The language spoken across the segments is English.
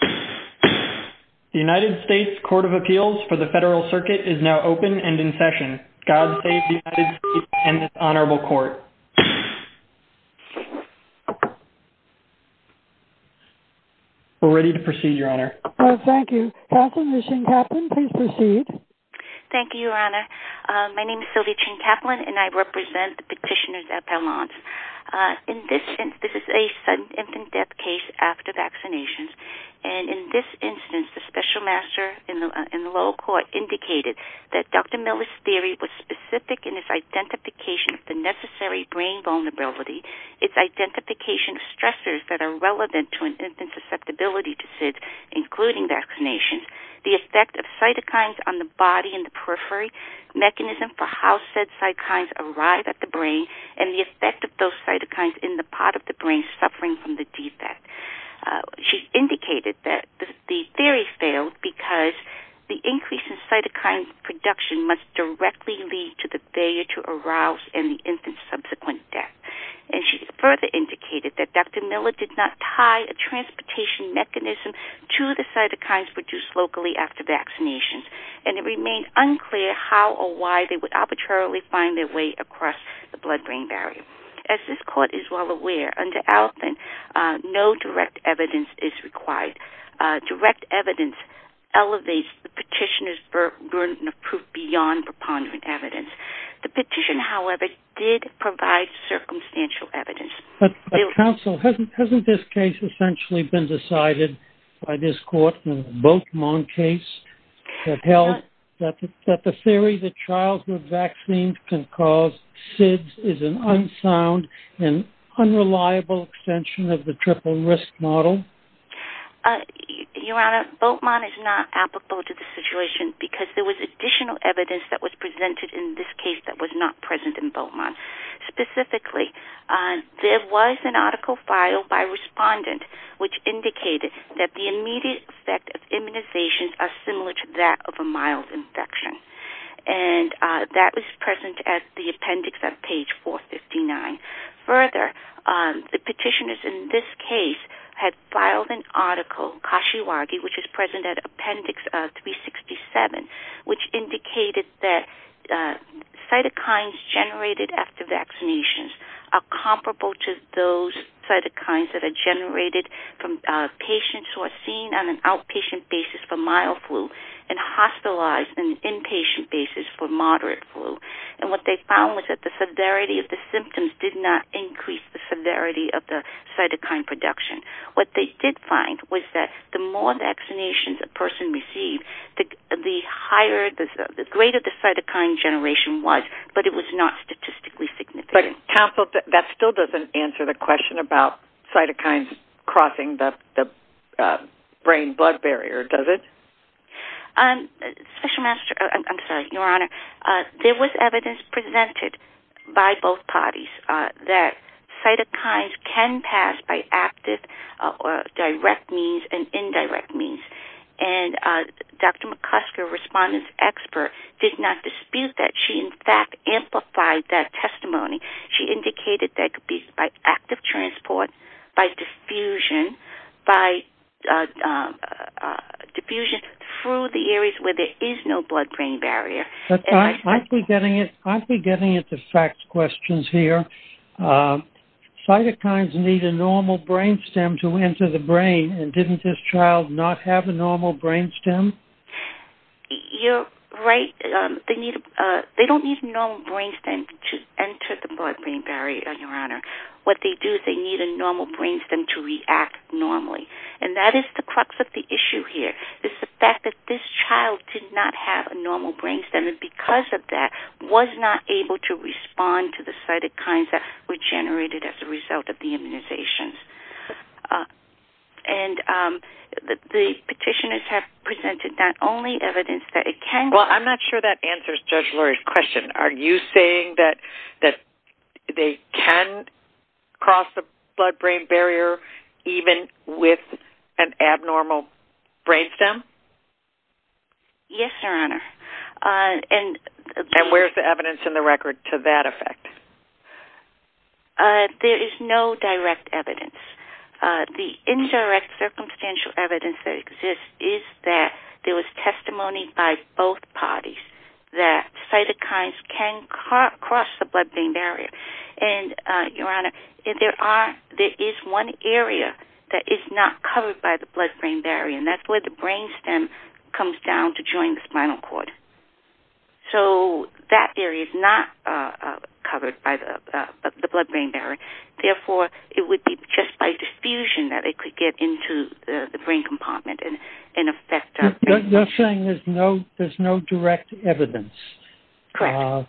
The United States Court of Appeals for the Federal Circuit is now open and in session. God save the United States and this Honorable Court. We're ready to proceed, Your Honor. Thank you. Councilwoman Shin-Kaplan, please proceed. Thank you, Your Honor. My name is Sylvia Shin-Kaplan, and I represent the petitioners at And in this instance, the special master in the lower court indicated that Dr. Miller's theory was specific in its identification of the necessary brain vulnerability, its identification of stressors that are relevant to an infant's susceptibility to SIDS, including vaccinations, the effect of cytokines on the body and the periphery, mechanism for how said cytokines arrive at the brain, and the effect of those cytokines in the part of the brain suffering from the defect. She indicated that the theory failed because the increase in cytokine production must directly lead to the failure to arouse in the infant's subsequent death. And she further indicated that Dr. Miller did not tie a transportation mechanism to the cytokines produced locally after vaccinations, and it remained unclear how or why they would arbitrarily find their way across the blood-brain barrier. As this court is well aware, under ALPIN, no direct evidence is required. Direct evidence elevates the petitioner's burden of proof beyond preponderant evidence. The petition, however, did provide circumstantial evidence. Counsel, hasn't this case essentially been decided by this court in the Boakman case that held that the theory that childhood vaccines can cause SIDS is an unsound and unreliable extension of the triple risk model? Your Honor, Boakman is not applicable to this situation because there was additional evidence that was presented in this case that was not present in Boakman. Specifically, there was an article filed by a respondent which indicated that the immediate effect of immunizations are similar to that of a mild infection, and that was present at the appendix on page 459. Further, the petitioners in this case had filed an article, Kashiwagi, which is present at appendix 367, which indicated that cytokines generated after vaccinations are comparable to those cytokines that are generated from patients who are seen on an outpatient basis for mild flu and hospitalized on an inpatient basis for moderate flu. And what they found was that the severity of the symptoms did not increase the severity of the cytokine production. What they did find was that the more vaccinations a person received, the greater the cytokine generation was, but it was not statistically significant. Counsel, that still doesn't answer the question about cytokines crossing the brain blood barrier, does it? I'm sorry, Your Honor. There was evidence presented by both parties that cytokines can pass by active or direct means and indirect means, and Dr. McCusker, respondent expert, did not dispute that. She, in fact, amplified that testimony. She indicated that could be by active transport, by diffusion, by diffusion through the areas where there is no blood-brain barrier. I'm getting at the facts questions here. Cytokines need a normal brain stem? You're right. They don't need a normal brain stem to enter the blood-brain barrier, Your Honor. What they do is they need a normal brain stem to react normally, and that is the crux of the issue here. It's the fact that this child did not have a normal brain stem and because of that was not able to respond to the cytokines that were generated as a result of the immunizations. And the petitioners have presented not only evidence that it can... Well, I'm not sure that answers Judge Lurie's question. Are you saying that they can cross the blood-brain barrier even with an abnormal brain stem? Yes, Your Honor. And where's the evidence in the record to that effect? There is no direct evidence. The indirect circumstantial evidence that exists is that there was testimony by both parties that cytokines can cross the blood-brain barrier. And, Your Honor, there is one area that is not covered by the blood-brain barrier, and that's where the brain stem comes down to join the spinal cord. So that area is not covered by the blood-brain barrier. Therefore, it would be just by diffusion that it could get into the brain compartment and affect... You're saying there's no direct evidence? Correct.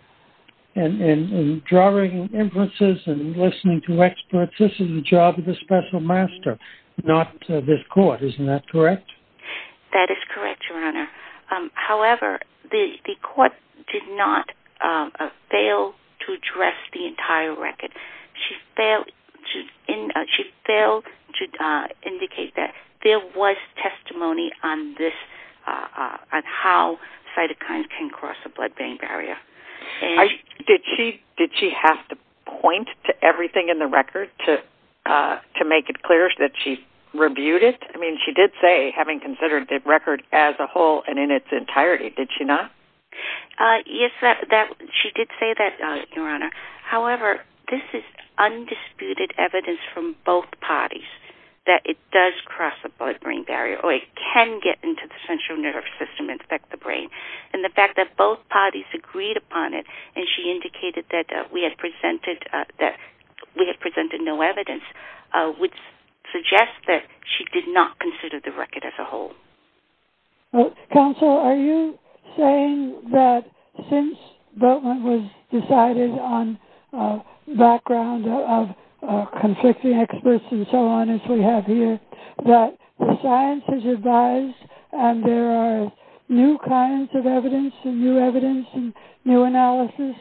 And drawing inferences and listening to experts, this is the job of the special master, not this court. Isn't that correct? That is correct, Your Honor. However, the court did not fail to address the entire record. She failed to indicate that there was testimony on this, on how cytokines can cross the blood-brain barrier. Did she have to point to everything in the record to make it clear that she rebuked it? I mean, she did say, having considered the record as a whole and in its entirety, did she not? Yes, she did say that, Your Honor. However, this is undisputed evidence from both parties that it does cross the blood-brain barrier, or it can get into the central nervous system and affect the brain. And the fact that both have presented no evidence would suggest that she did not consider the record as a whole. Counsel, are you saying that since Boatman was decided on background of conflicting experts and so on, as we have here, that the science is advised and there are new kinds of evidence and new analysis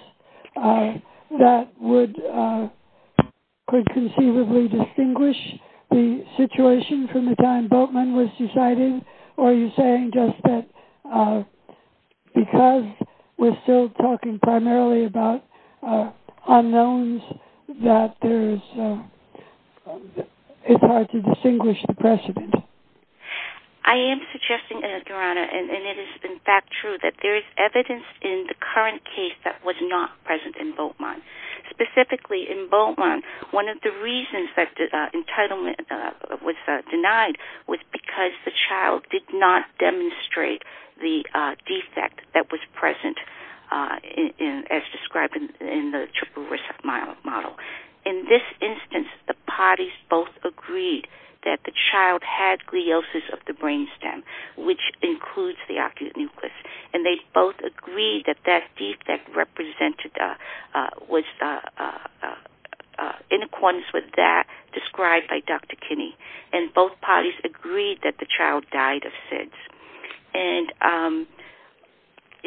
that would conceivably distinguish the situation from the time Boatman was decided? Or are you saying just that because we're still talking primarily about unknowns, that it's hard to distinguish the precedent? I am suggesting, Your Honor, and it is, in fact, true, that there is evidence in the current case that was not present in Boatman. Specifically, in Boatman, one of the reasons that entitlement was denied was because the child did not demonstrate the defect that was present as described in the triple risk model. In this instance, the parties both agreed that the child had gliosis of the brainstem, which includes the nucleus. And they both agreed that that defect represented was in accordance with that described by Dr. Kinney. And both parties agreed that the child died of SIDS.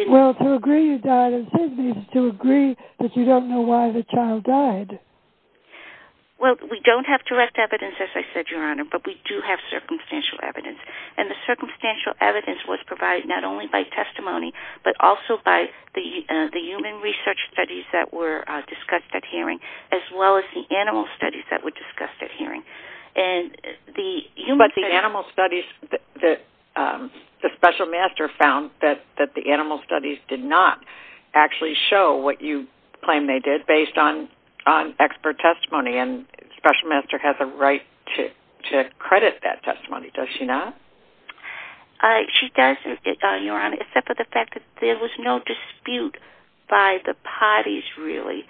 Well, to agree you died of SIDS means to agree that you don't know why the child died. Well, we don't have direct evidence, as I said, Your Honor, but we do have circumstantial evidence. And the circumstantial evidence was provided not only by testimony, but also by the human research studies that were discussed at hearing, as well as the animal studies that were discussed at hearing. But the animal studies, the special master found that the animal studies did not actually show what you claim they did based on expert testimony. And the special master has a She doesn't, Your Honor, except for the fact that there was no dispute by the parties, really,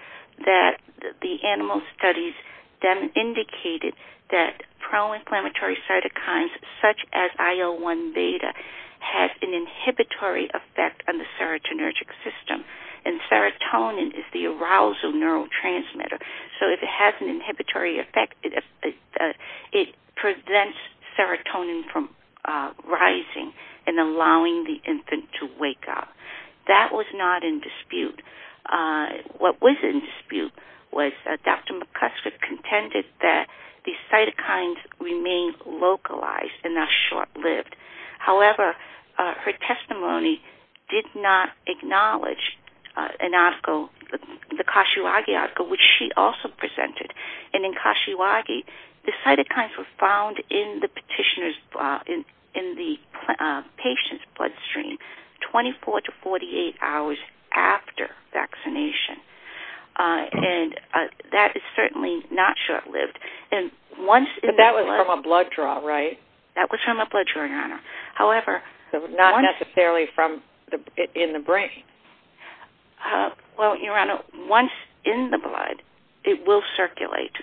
that the animal studies then indicated that pro-inflammatory cytokines, such as IL-1 beta, has an inhibitory effect on the serotonergic system. And serotonin is the arousal neurotransmitter. So if it has an inhibitory effect, it prevents serotonin from rising and allowing the infant to wake up. That was not in dispute. What was in dispute was that Dr. McCusker contended that the cytokines remained localized and not short-lived. However, her testimony did not which she also presented. And in Kashiwake, the cytokines were found in the patient's bloodstream 24 to 48 hours after vaccination. And that is certainly not short-lived. But that was from a blood draw, right? That was from a blood draw, Your Honor. However, not necessarily in the brain. Well, Your Honor, once in the blood, it will circulate.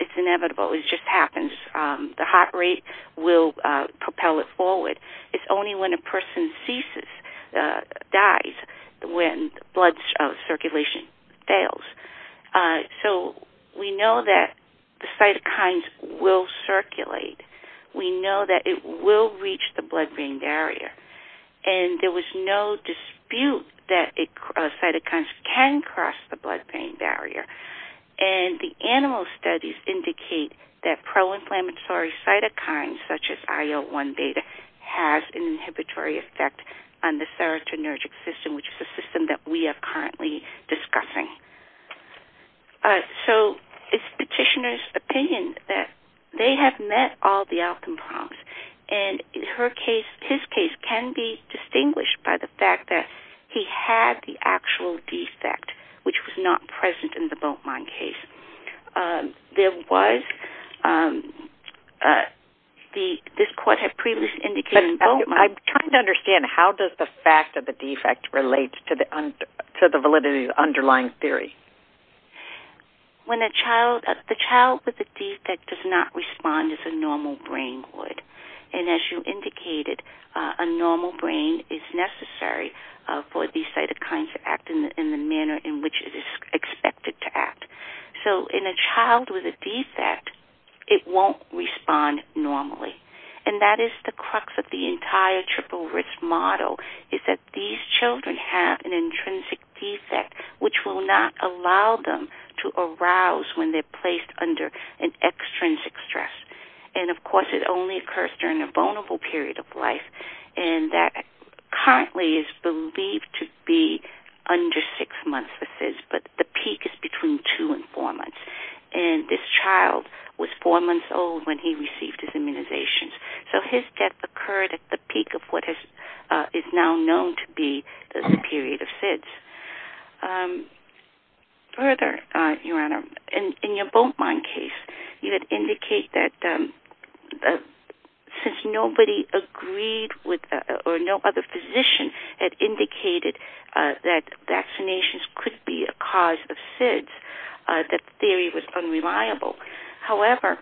It's inevitable. It just happens. The heart rate will propel it forward. It's only when a person ceases, dies, when blood circulation fails. So we know that the cytokines will circulate. We know that it will reach the blood-brain barrier. And there was no dispute that cytokines can cross the blood-brain barrier. And the animal studies indicate that pro-inflammatory cytokines, such as IL-1 data, has an inhibitory effect on the serotonergic system, which is the system that we are currently discussing. So it's the petitioner's opinion that they have met all the outcome problems. And in her case, his case, can be distinguished by the fact that he had the actual defect, which was not present in the Bultmann case. There was, this court had previously indicated... But I'm trying to understand, how does the fact of the defect relate to the validity of the underlying theory? When a child, the child with the defect does not respond as a normal brain would. And as you indicated, a normal brain is necessary for these cytokines to act in the manner in which it is expected to act. So in a child with a defect, it won't respond normally. And that is the crux of the entire triple risk model, is that these children have an intrinsic defect, which will not allow them to arouse when they're placed under an extrinsic stress. And of course, it only occurs during a vulnerable period of life. And that currently is believed to be under six months for SIDS, but the peak is between two and four months. And this child was four months old when he received his immunizations. So his death occurred at the peak of what is now known to be the period of SIDS. Further, Your Honor, in your Boatmine case, you did indicate that since nobody agreed with, or no other physician had indicated that vaccinations could be a cause of SIDS, that theory was unreliable. However,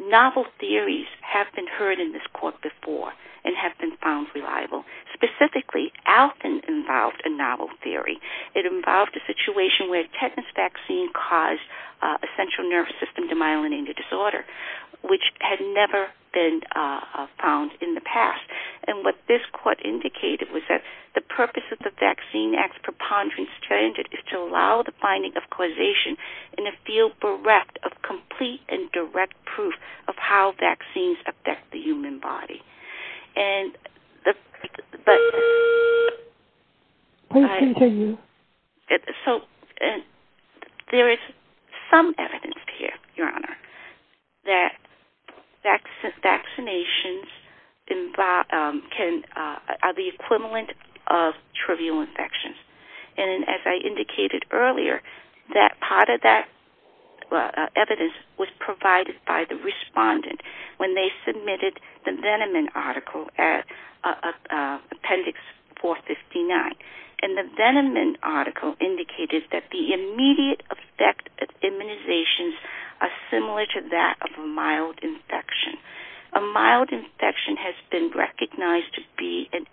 novel theories have been heard in this court before and have been found reliable. Specifically, Alton involved a novel theory. It involved a situation where a tetanus vaccine caused a central nervous system demyelinating disorder, which had never been found in the past. And what this court indicated was that the purpose of the vaccine acts preponderance to allow the finding of causation in a field bereft of complete and and the, but... Please continue. So there is some evidence here, Your Honor, that vaccinations can, are the equivalent of trivial infections. And as I indicated earlier, that part of that evidence was provided by the respondent when they submitted the Veneman article at Appendix 459. And the Veneman article indicated that the immediate effect of immunizations are similar to that of a mild infection. A mild infection has been recognized to be an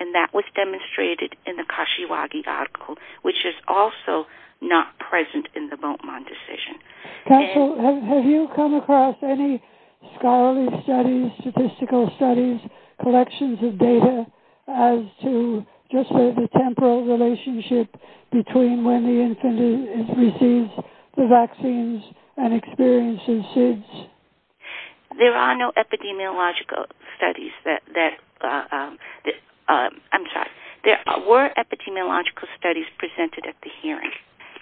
and that was demonstrated in the Kashiwagi article, which is also not present in the Beaumont decision. Counsel, have you come across any scholarly studies, statistical studies, collections of data as to just the temporal relationship between when the infant receives the vaccines and experiences SIDS? There are no epidemiological studies that, that, I'm sorry, there were epidemiological studies presented at the hearing,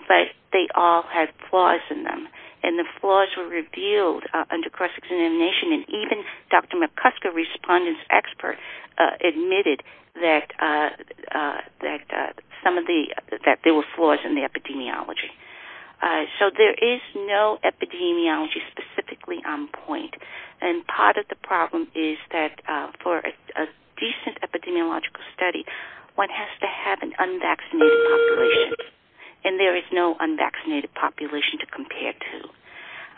but they all had flaws in them. And the flaws were revealed under cross-examination. And even Dr. McCusker, respondent expert, admitted that some of the, that there were flaws in the epidemiology. So there is no epidemiology specifically on point. And part of the problem is that for a decent epidemiological study, one has to have an unvaccinated population. And there is no unvaccinated population to compare to.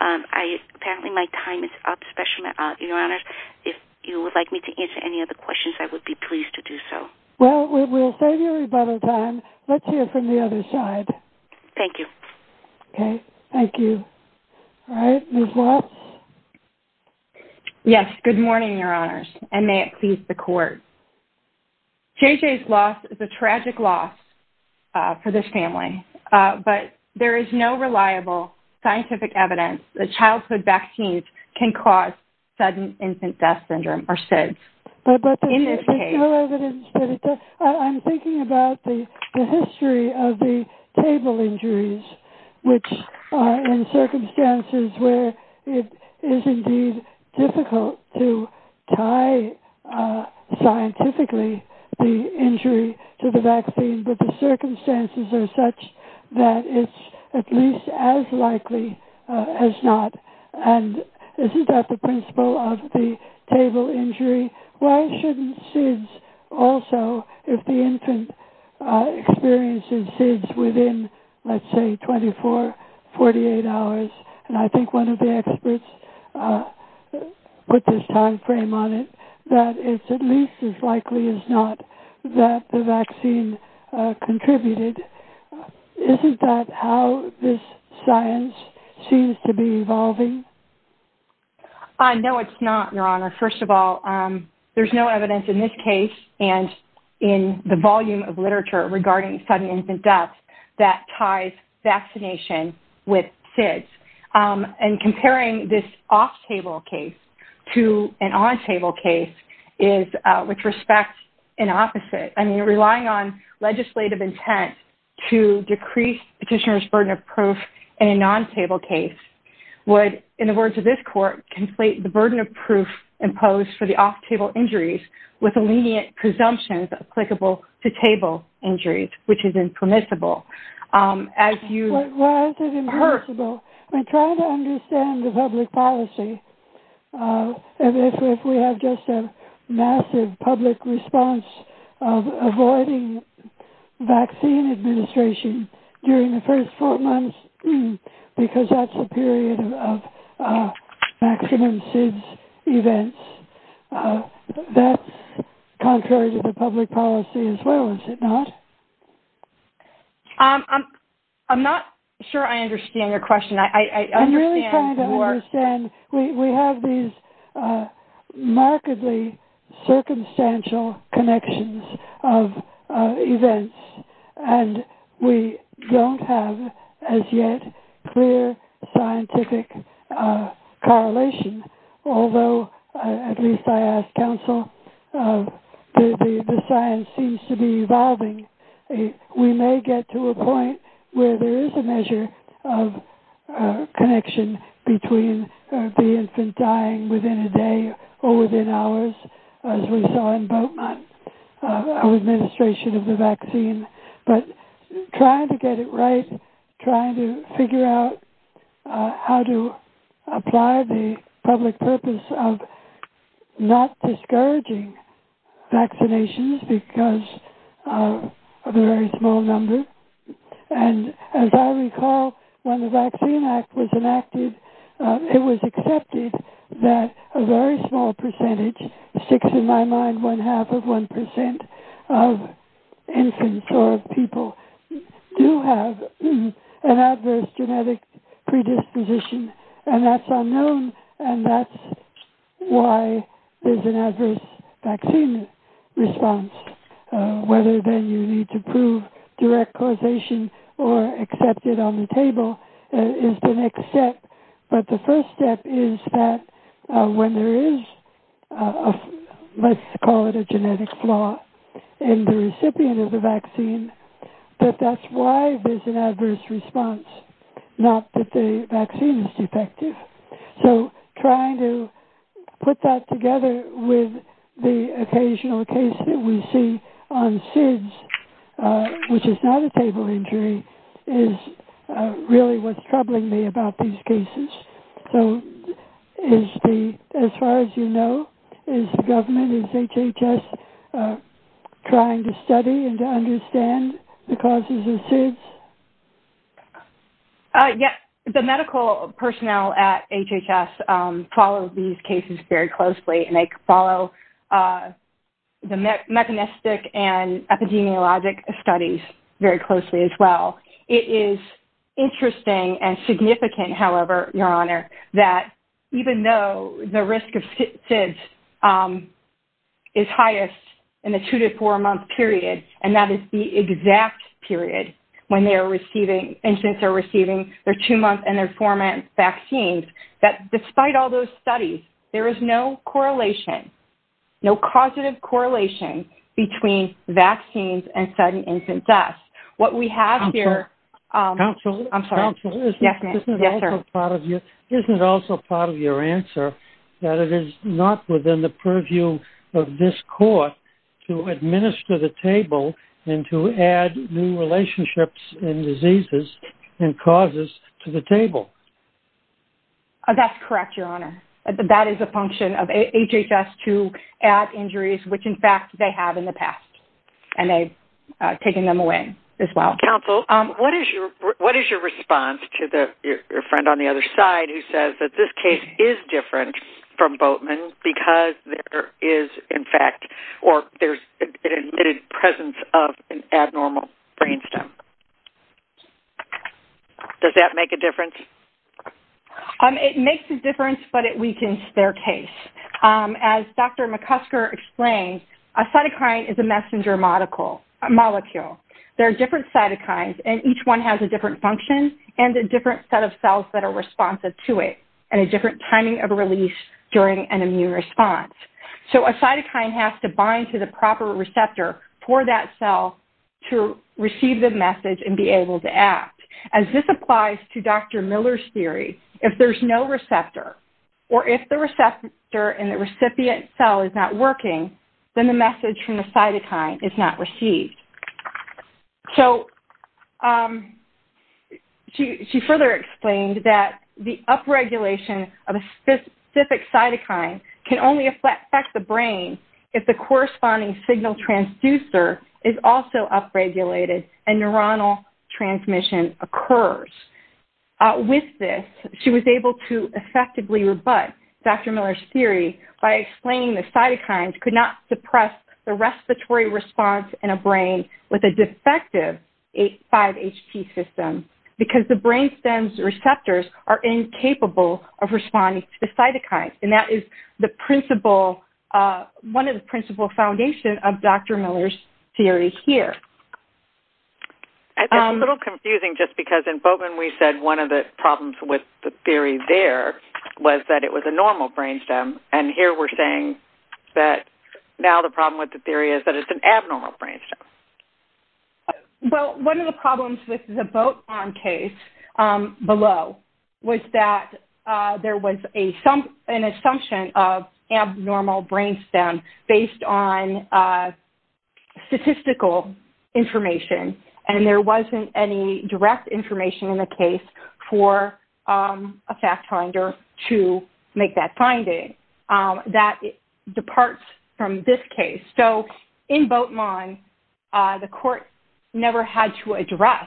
I, apparently my time is up, especially, your honors. If you would like me to answer any other questions, I would be pleased to do so. Well, we'll save you a little time. Let's hear from the other side. Thank you. Okay. Thank you. All right. Ms. Watts? Yes. Good morning, your honors, and may it please the court. JJ's loss is a tragic loss for this family, but there is no reliable scientific evidence that childhood vaccines can cause sudden infant death syndrome or SIDS. But there's no evidence that it does. I'm thinking about the history of the table injuries, which are in circumstances where it is indeed difficult to tie scientifically the injury to the vaccine, but the circumstances are such that it's at least as likely as not. And isn't that the principle of the table injury? Why shouldn't SIDS also, if the infant experiences SIDS within, let's say, 24, 48 hours? And I think one of the experts put this timeframe on it, that it's at least as likely as not that the vaccine contributed. Isn't that how this science seems to be evolving? No, it's not, your honor. First of all, there's no evidence in this case and in the volume of literature regarding sudden infant death that ties vaccination with SIDS. And comparing this off-table case to an on-table case which respects an opposite. I mean, relying on legislative intent to decrease petitioner's burden of proof in a non-table case would, in the words of this court, conflate the burden of proof imposed for the off-table injuries with a lenient presumption applicable to table injuries, which is impermissible. As you... Well, it's impermissible. I'm trying to understand the public policy. And if we have just a massive public response of avoiding vaccine administration during the first four months, because that's the period of maximum SIDS events, that's contrary to the public policy as well, is it not? I'm not sure I understand your question. I'm really trying to understand. We have these remarkably circumstantial connections of events, and we don't have as yet clear scientific correlation. Although, at least I ask counsel, the science seems to be evolving. We may get to a point where there is a measure of connection between the infant dying within a day or within hours, as we saw in Beaumont, our administration of the vaccine, but trying to get it right, trying to figure out how to apply the public purpose of not discouraging vaccinations because of a very small number. And as I recall, when the Vaccine Act was enacted, it was accepted that a very small percentage, six in my mind, one half of one percent of infants or of people do have an adverse genetic predisposition. And that's unknown, and that's why there's an adverse vaccine response. Whether then you need to prove direct causation or accept it on the table is the next step. But the first step is that when there is, let's call it a genetic flaw in the recipient of the vaccine, that that's why there's an adverse response, not that the vaccine is defective. So, trying to put that together with the occasional case that we see on SIDS, which is not a table injury, is really what's troubling me about these cases. So, as far as you know, is the government, is HHS trying to study and to understand the causes of SIDS? Yes. The medical personnel at HHS follow these cases very closely, and they study immunologic studies very closely as well. It is interesting and significant, however, Your Honor, that even though the risk of SIDS is highest in the two to four-month period, and that is the exact period when infants are receiving their two-month and their four-month vaccines, that despite all those studies, there is no correlation, no causative correlation between vaccines and sudden infant deaths. What we have here... Counselor. Counselor. I'm sorry. Yes, ma'am. Yes, sir. Isn't it also part of your answer that it is not within the purview of this court to administer the table and to add new relationships and diseases and causes to the table? That's correct, Your Honor. That is a function of HHS to add injuries, which, in fact, they have in the past, and they've taken them away as well. Counsel, what is your response to your friend on the other side who says that this case is different from Boatman because there is, in fact, or there's an admitted presence of an abnormal brainstem? Does that make a difference? It makes a difference, but it weakens their case. As Dr. McCusker explained, a cytokine is a messenger molecule. There are different cytokines, and each one has a different function and a different set of cells that are responsive to it and a different timing of release during an immune response. So a cytokine has to bind to the proper receptor for that cell to receive the message and be able to act. As this applies to Dr. Miller's theory, if there's no receptor or if the receptor in the recipient cell is not working, then the message from the cytokine is not received. So she further explained that the upregulation of a specific cytokine can only affect the brain if the corresponding signal transducer is also upregulated and neuronal transmission occurs. With this, she was able to effectively rebut Dr. Miller's theory by explaining the cytokines could not suppress the respiratory response in a brain with a defective 5HP system because the brainstem's receptors are incapable of responding to the cytokines. That is one of the principal foundations of Dr. Miller's theory here. It's a little confusing just because in Bowdoin we said one of the problems with the theory there was that it was a normal brainstem, and here we're saying that now the problem with the theory is that it's an abnormal brainstem. Well, one of the problems with the boat arm case below was that there was an assumption of abnormal brainstem based on statistical information, and there wasn't any direct information in the case for a fact finder to make that finding. That departs from this case. So in Bowdoin, the court never had to address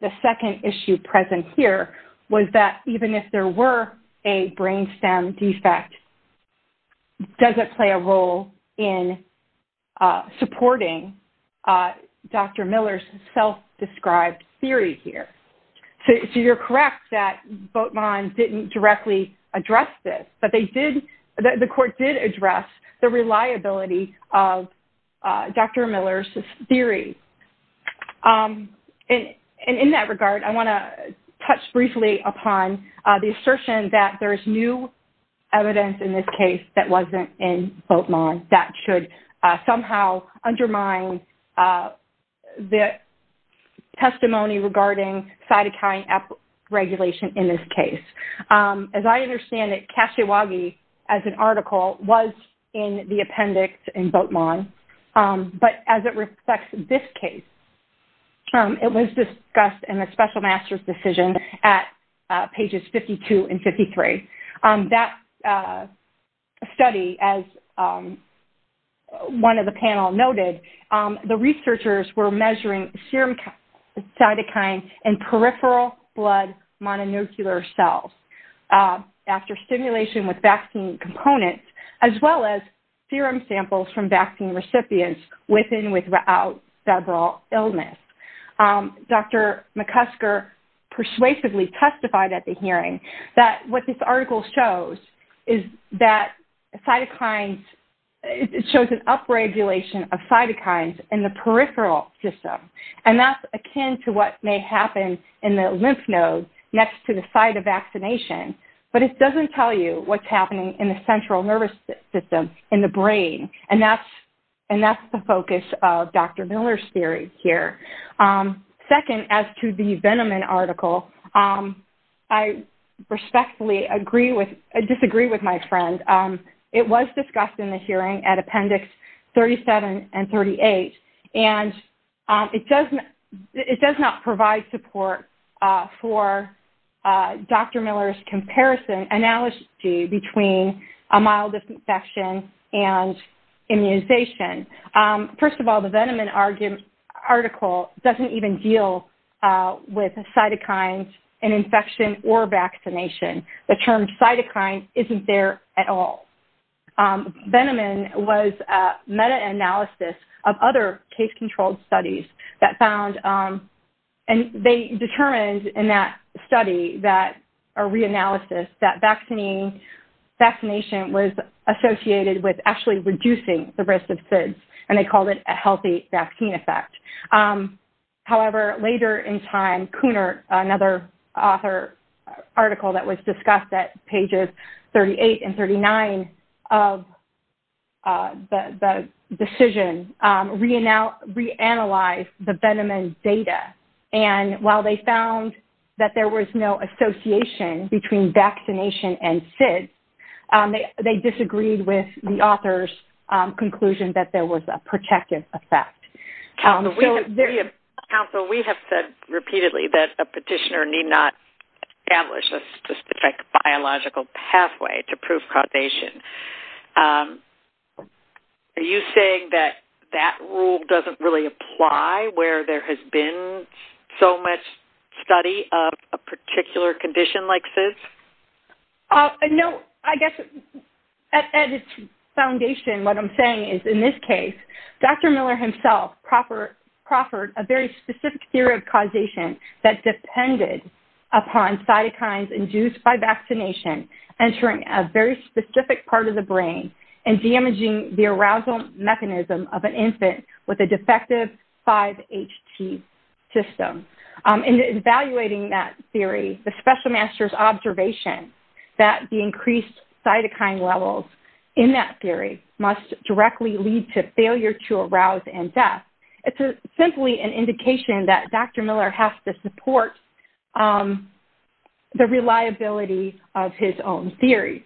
the second issue present here was that even if there were a brainstem defect, does it play a role in supporting Dr. Miller's self-described theory here? So you're correct that Bowdoin didn't directly address this, but the court did address the reliability of Dr. Miller's theory. In that regard, I want to touch briefly upon the assertion that there's new evidence in this case that wasn't in Bowdoin that should somehow undermine the testimony regarding cytokine regulation in this case. As I understand it, Kashiwagi as an article was in the appendix in Bowdoin, but as it reflects this case, it was discussed in the special master's decision at pages 52 and 53. That study, as one of the panel noted, the researchers were measuring serum cytokine in peripheral blood mononuclear cells after stimulation with vaccine components, as well as serum samples from vaccine recipients with and without febrile illness. Dr. McCusker persuasively testified at the hearing that what this article shows is that cytokines, it shows an upregulation of cytokines in the peripheral system, and that's akin to what may happen in the lymph nodes next to the site of vaccination. But it doesn't tell you what's happening in the central nervous system in the brain, and that's the focus of Dr. Miller's theory here. Second, as to the Veneman article, respectfully disagree with my friend. It was discussed in the hearing at appendix 37 and 38, and it does not provide support for Dr. Miller's comparison, analogy between a mild infection and immunization. First of all, the Veneman article doesn't even deal with cytokines, an infection, or vaccination. The term cytokine isn't there at all. Veneman was a meta-analysis of other case-controlled studies that found, and they determined in that study, that reanalysis, that vaccination was associated with actually reducing the risk of SIDS, and they called it author article that was discussed at pages 38 and 39 of the decision, reanalyzed the Veneman data, and while they found that there was no association between vaccination and SIDS, they disagreed with the author's conclusion that there was a protective effect. Council, we have said repeatedly that a petitioner need not establish a specific biological pathway to prove causation. Are you saying that that rule doesn't really apply where there has been so much study of a particular condition like SIDS? No. I guess at its foundation, what I'm saying is, in this case, Dr. Miller himself proffered a very specific theory of causation that depended upon cytokines induced by vaccination entering a very specific part of the brain and damaging the arousal mechanism of an infant with a defective 5-HT system. In evaluating that theory, the special master's observation that the increased cytokine levels in that theory must directly lead to failure to arouse in death, it's simply an indication that Dr. Miller has to support the reliability of his own theory.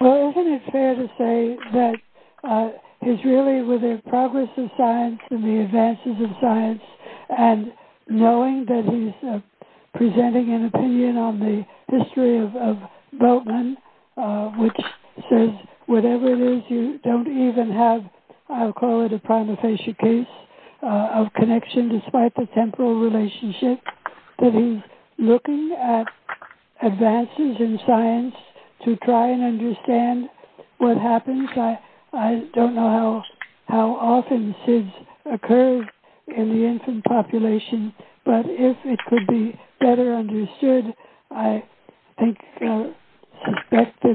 Well, isn't it fair to say that he's really, with the progress of science and the advances of science, and knowing that he's presenting an opinion on the history of Bultman, which says, whatever it is, you don't even have, I'll call it a prima facie case of connection despite the relationship that he's looking at advances in science to try and understand what happens? I don't know how often SIDS occurs in the infant population, but if it could be better understood, I think there'd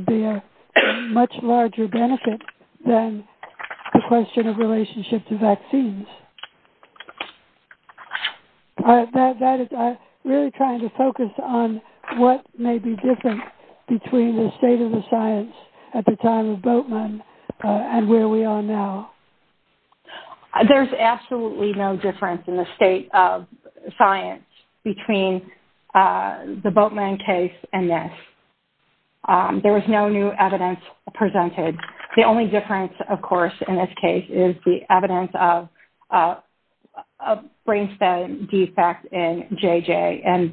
be a much larger benefit than the question of that. I'm really trying to focus on what may be different between the state of the science at the time of Bultman and where we are now. There's absolutely no difference in the state of science between the Bultman case and this. There was no new evidence presented. The only difference, of course, in this case, is the evidence of a brainstem defect in JJ.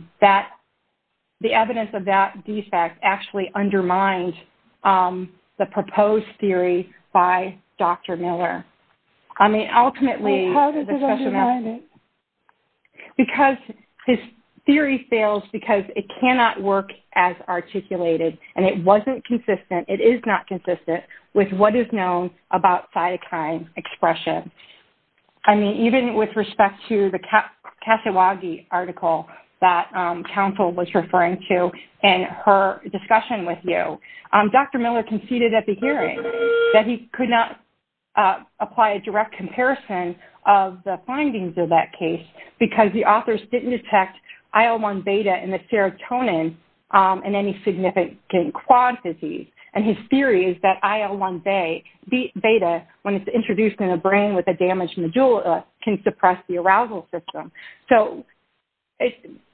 The evidence of that defect actually undermined the proposed theory by Dr. Miller. I mean, ultimately, because his theory fails because it cannot work as articulated, and it wasn't consistent, it is not consistent with what is known about cytokine expression. I mean, even with respect to the Katawagi article that counsel was referring to in her discussion with you, Dr. Miller conceded at the hearing that he could not apply a direct comparison of the findings of that case because the authors didn't detect IL-1 beta in the serotonin in any significant quad disease. And his theory is that IL-1 beta, when it's introduced in a brain with a damaged medulla, can suppress the arousal system. So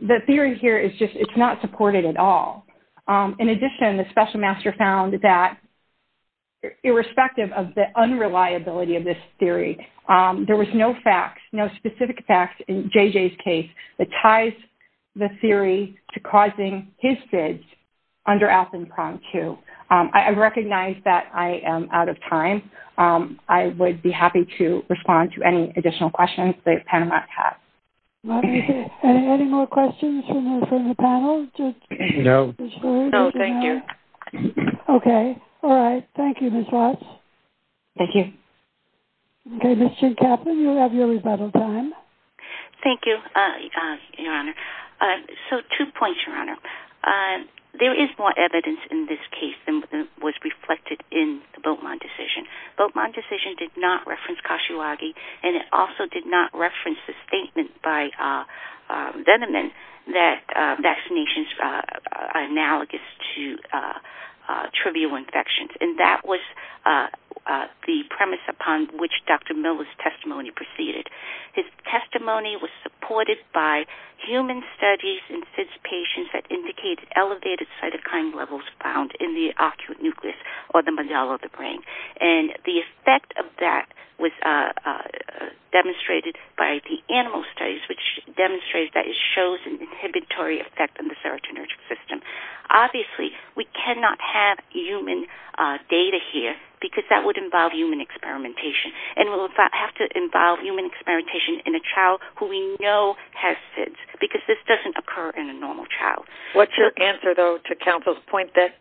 the theory here is just it's not supported at all. In addition, the special master found that irrespective of the unreliability of this theory, there was no facts, no specific facts in JJ's case that ties the theory to causing his fits under Alpenkron 2. I recognize that I am out of time. I would be happy to respond to any additional questions that panelists have. Any more questions from the panel? No. No, thank you. Okay. All right. Thank you, Ms. Watts. Thank you. Okay, Ms. Chincapa, you have your rebuttal time. Thank you, Your Honor. So two points, Your Honor. There is more evidence in this case than was reflected in the Beaumont decision. Beaumont decision did not reference Katawagi, and it also did not reference the statement by Venneman that vaccinations are analogous to trivial infections. And that was the premise upon which Dr. Mill's testimony proceeded. His testimony was supported by human studies in fits patients that indicated elevated cytokine levels found in the ocular nucleus or the medulla of the brain. And the effect of that was demonstrated by the animal studies, which demonstrated that it shows an inhibitory effect on the serotonergic system. Obviously, we cannot have human data here, because that would involve human experimentation. And we'll have to involve human experimentation in a child who we know has fits, because this doesn't occur in a normal child. What's your answer, though, to counsel's point that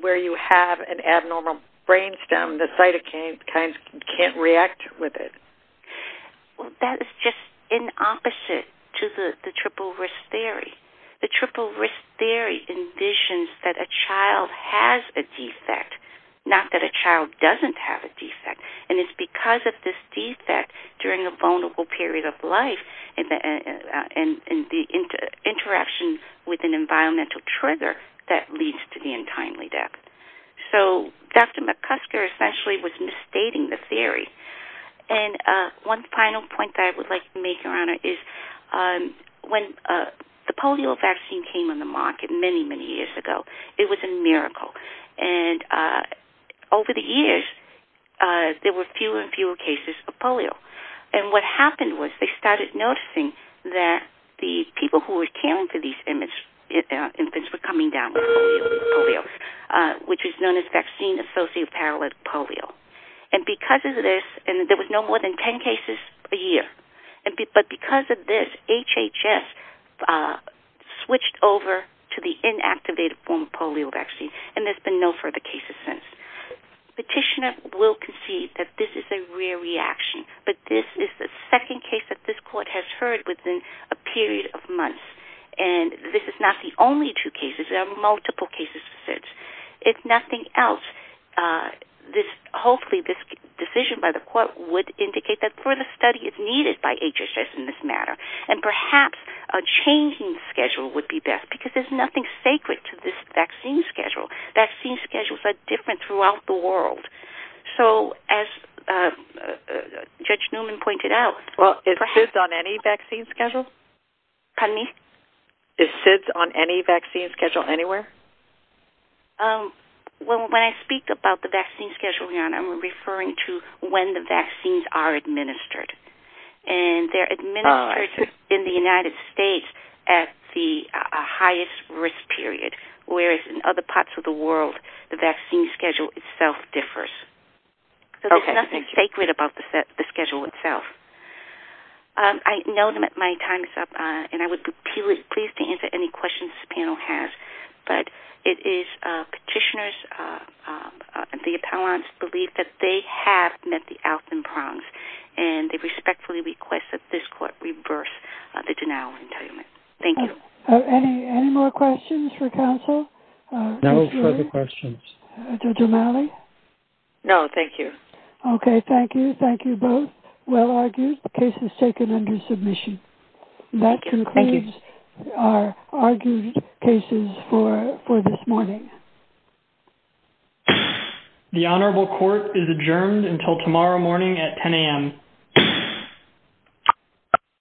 where you have an abnormal brainstem, the cytokine can't react with it? Well, that is just an opposite to the triple risk theory. The triple risk theory envisions that a child has a defect, not that a child doesn't have a defect. And it's because of this defect during a vulnerable period of life and the interaction with an environmental trigger that leads to the untimely death. So Dr. McCusker essentially was misstating the theory. And one final point that I would like to make, Your Honor, is when the polio vaccine came on the market many, many years ago, it was a miracle. And over the years, there were fewer and fewer cases of polio. And what happened was they started noticing that the people who were caring for these infants were coming down with polio, which is known as vaccine-associated polio. And because of this, and there was no more than 10 cases a year, but because of this, HHS switched over to the inactivated form of polio vaccine, and there's been no further cases since. Petitioner will concede that this is a rare reaction, but this is the second case that this court has heard within a period of months. And this is not the only two cases. There are this, hopefully this decision by the court would indicate that further study is needed by HHS in this matter. And perhaps a changing schedule would be best, because there's nothing sacred to this vaccine schedule. Vaccine schedules are different throughout the world. So as Judge Newman pointed out- Well, is SIDS on any vaccine schedule? Pardon me? Is SIDS on any vaccine schedule anywhere? Well, when I speak about the vaccine schedule, Your Honor, I'm referring to when the vaccines are administered. And they're administered in the United States at the highest risk period, whereas in other parts of the world, the vaccine schedule itself differs. So there's nothing sacred about the schedule itself. I know that my time is up, and I would be pleased to answer any questions the panel has. But it is petitioners, the appellants believe that they have met the Alton prongs, and they respectfully request that this court reverse the denial of entitlement. Thank you. Any more questions for counsel? No further questions. Judge O'Malley? No, thank you. Okay, thank you. Thank you both. Well argued. The case is taken under submission. That concludes our argued cases for this morning. The Honorable Court is adjourned until tomorrow morning at 10am.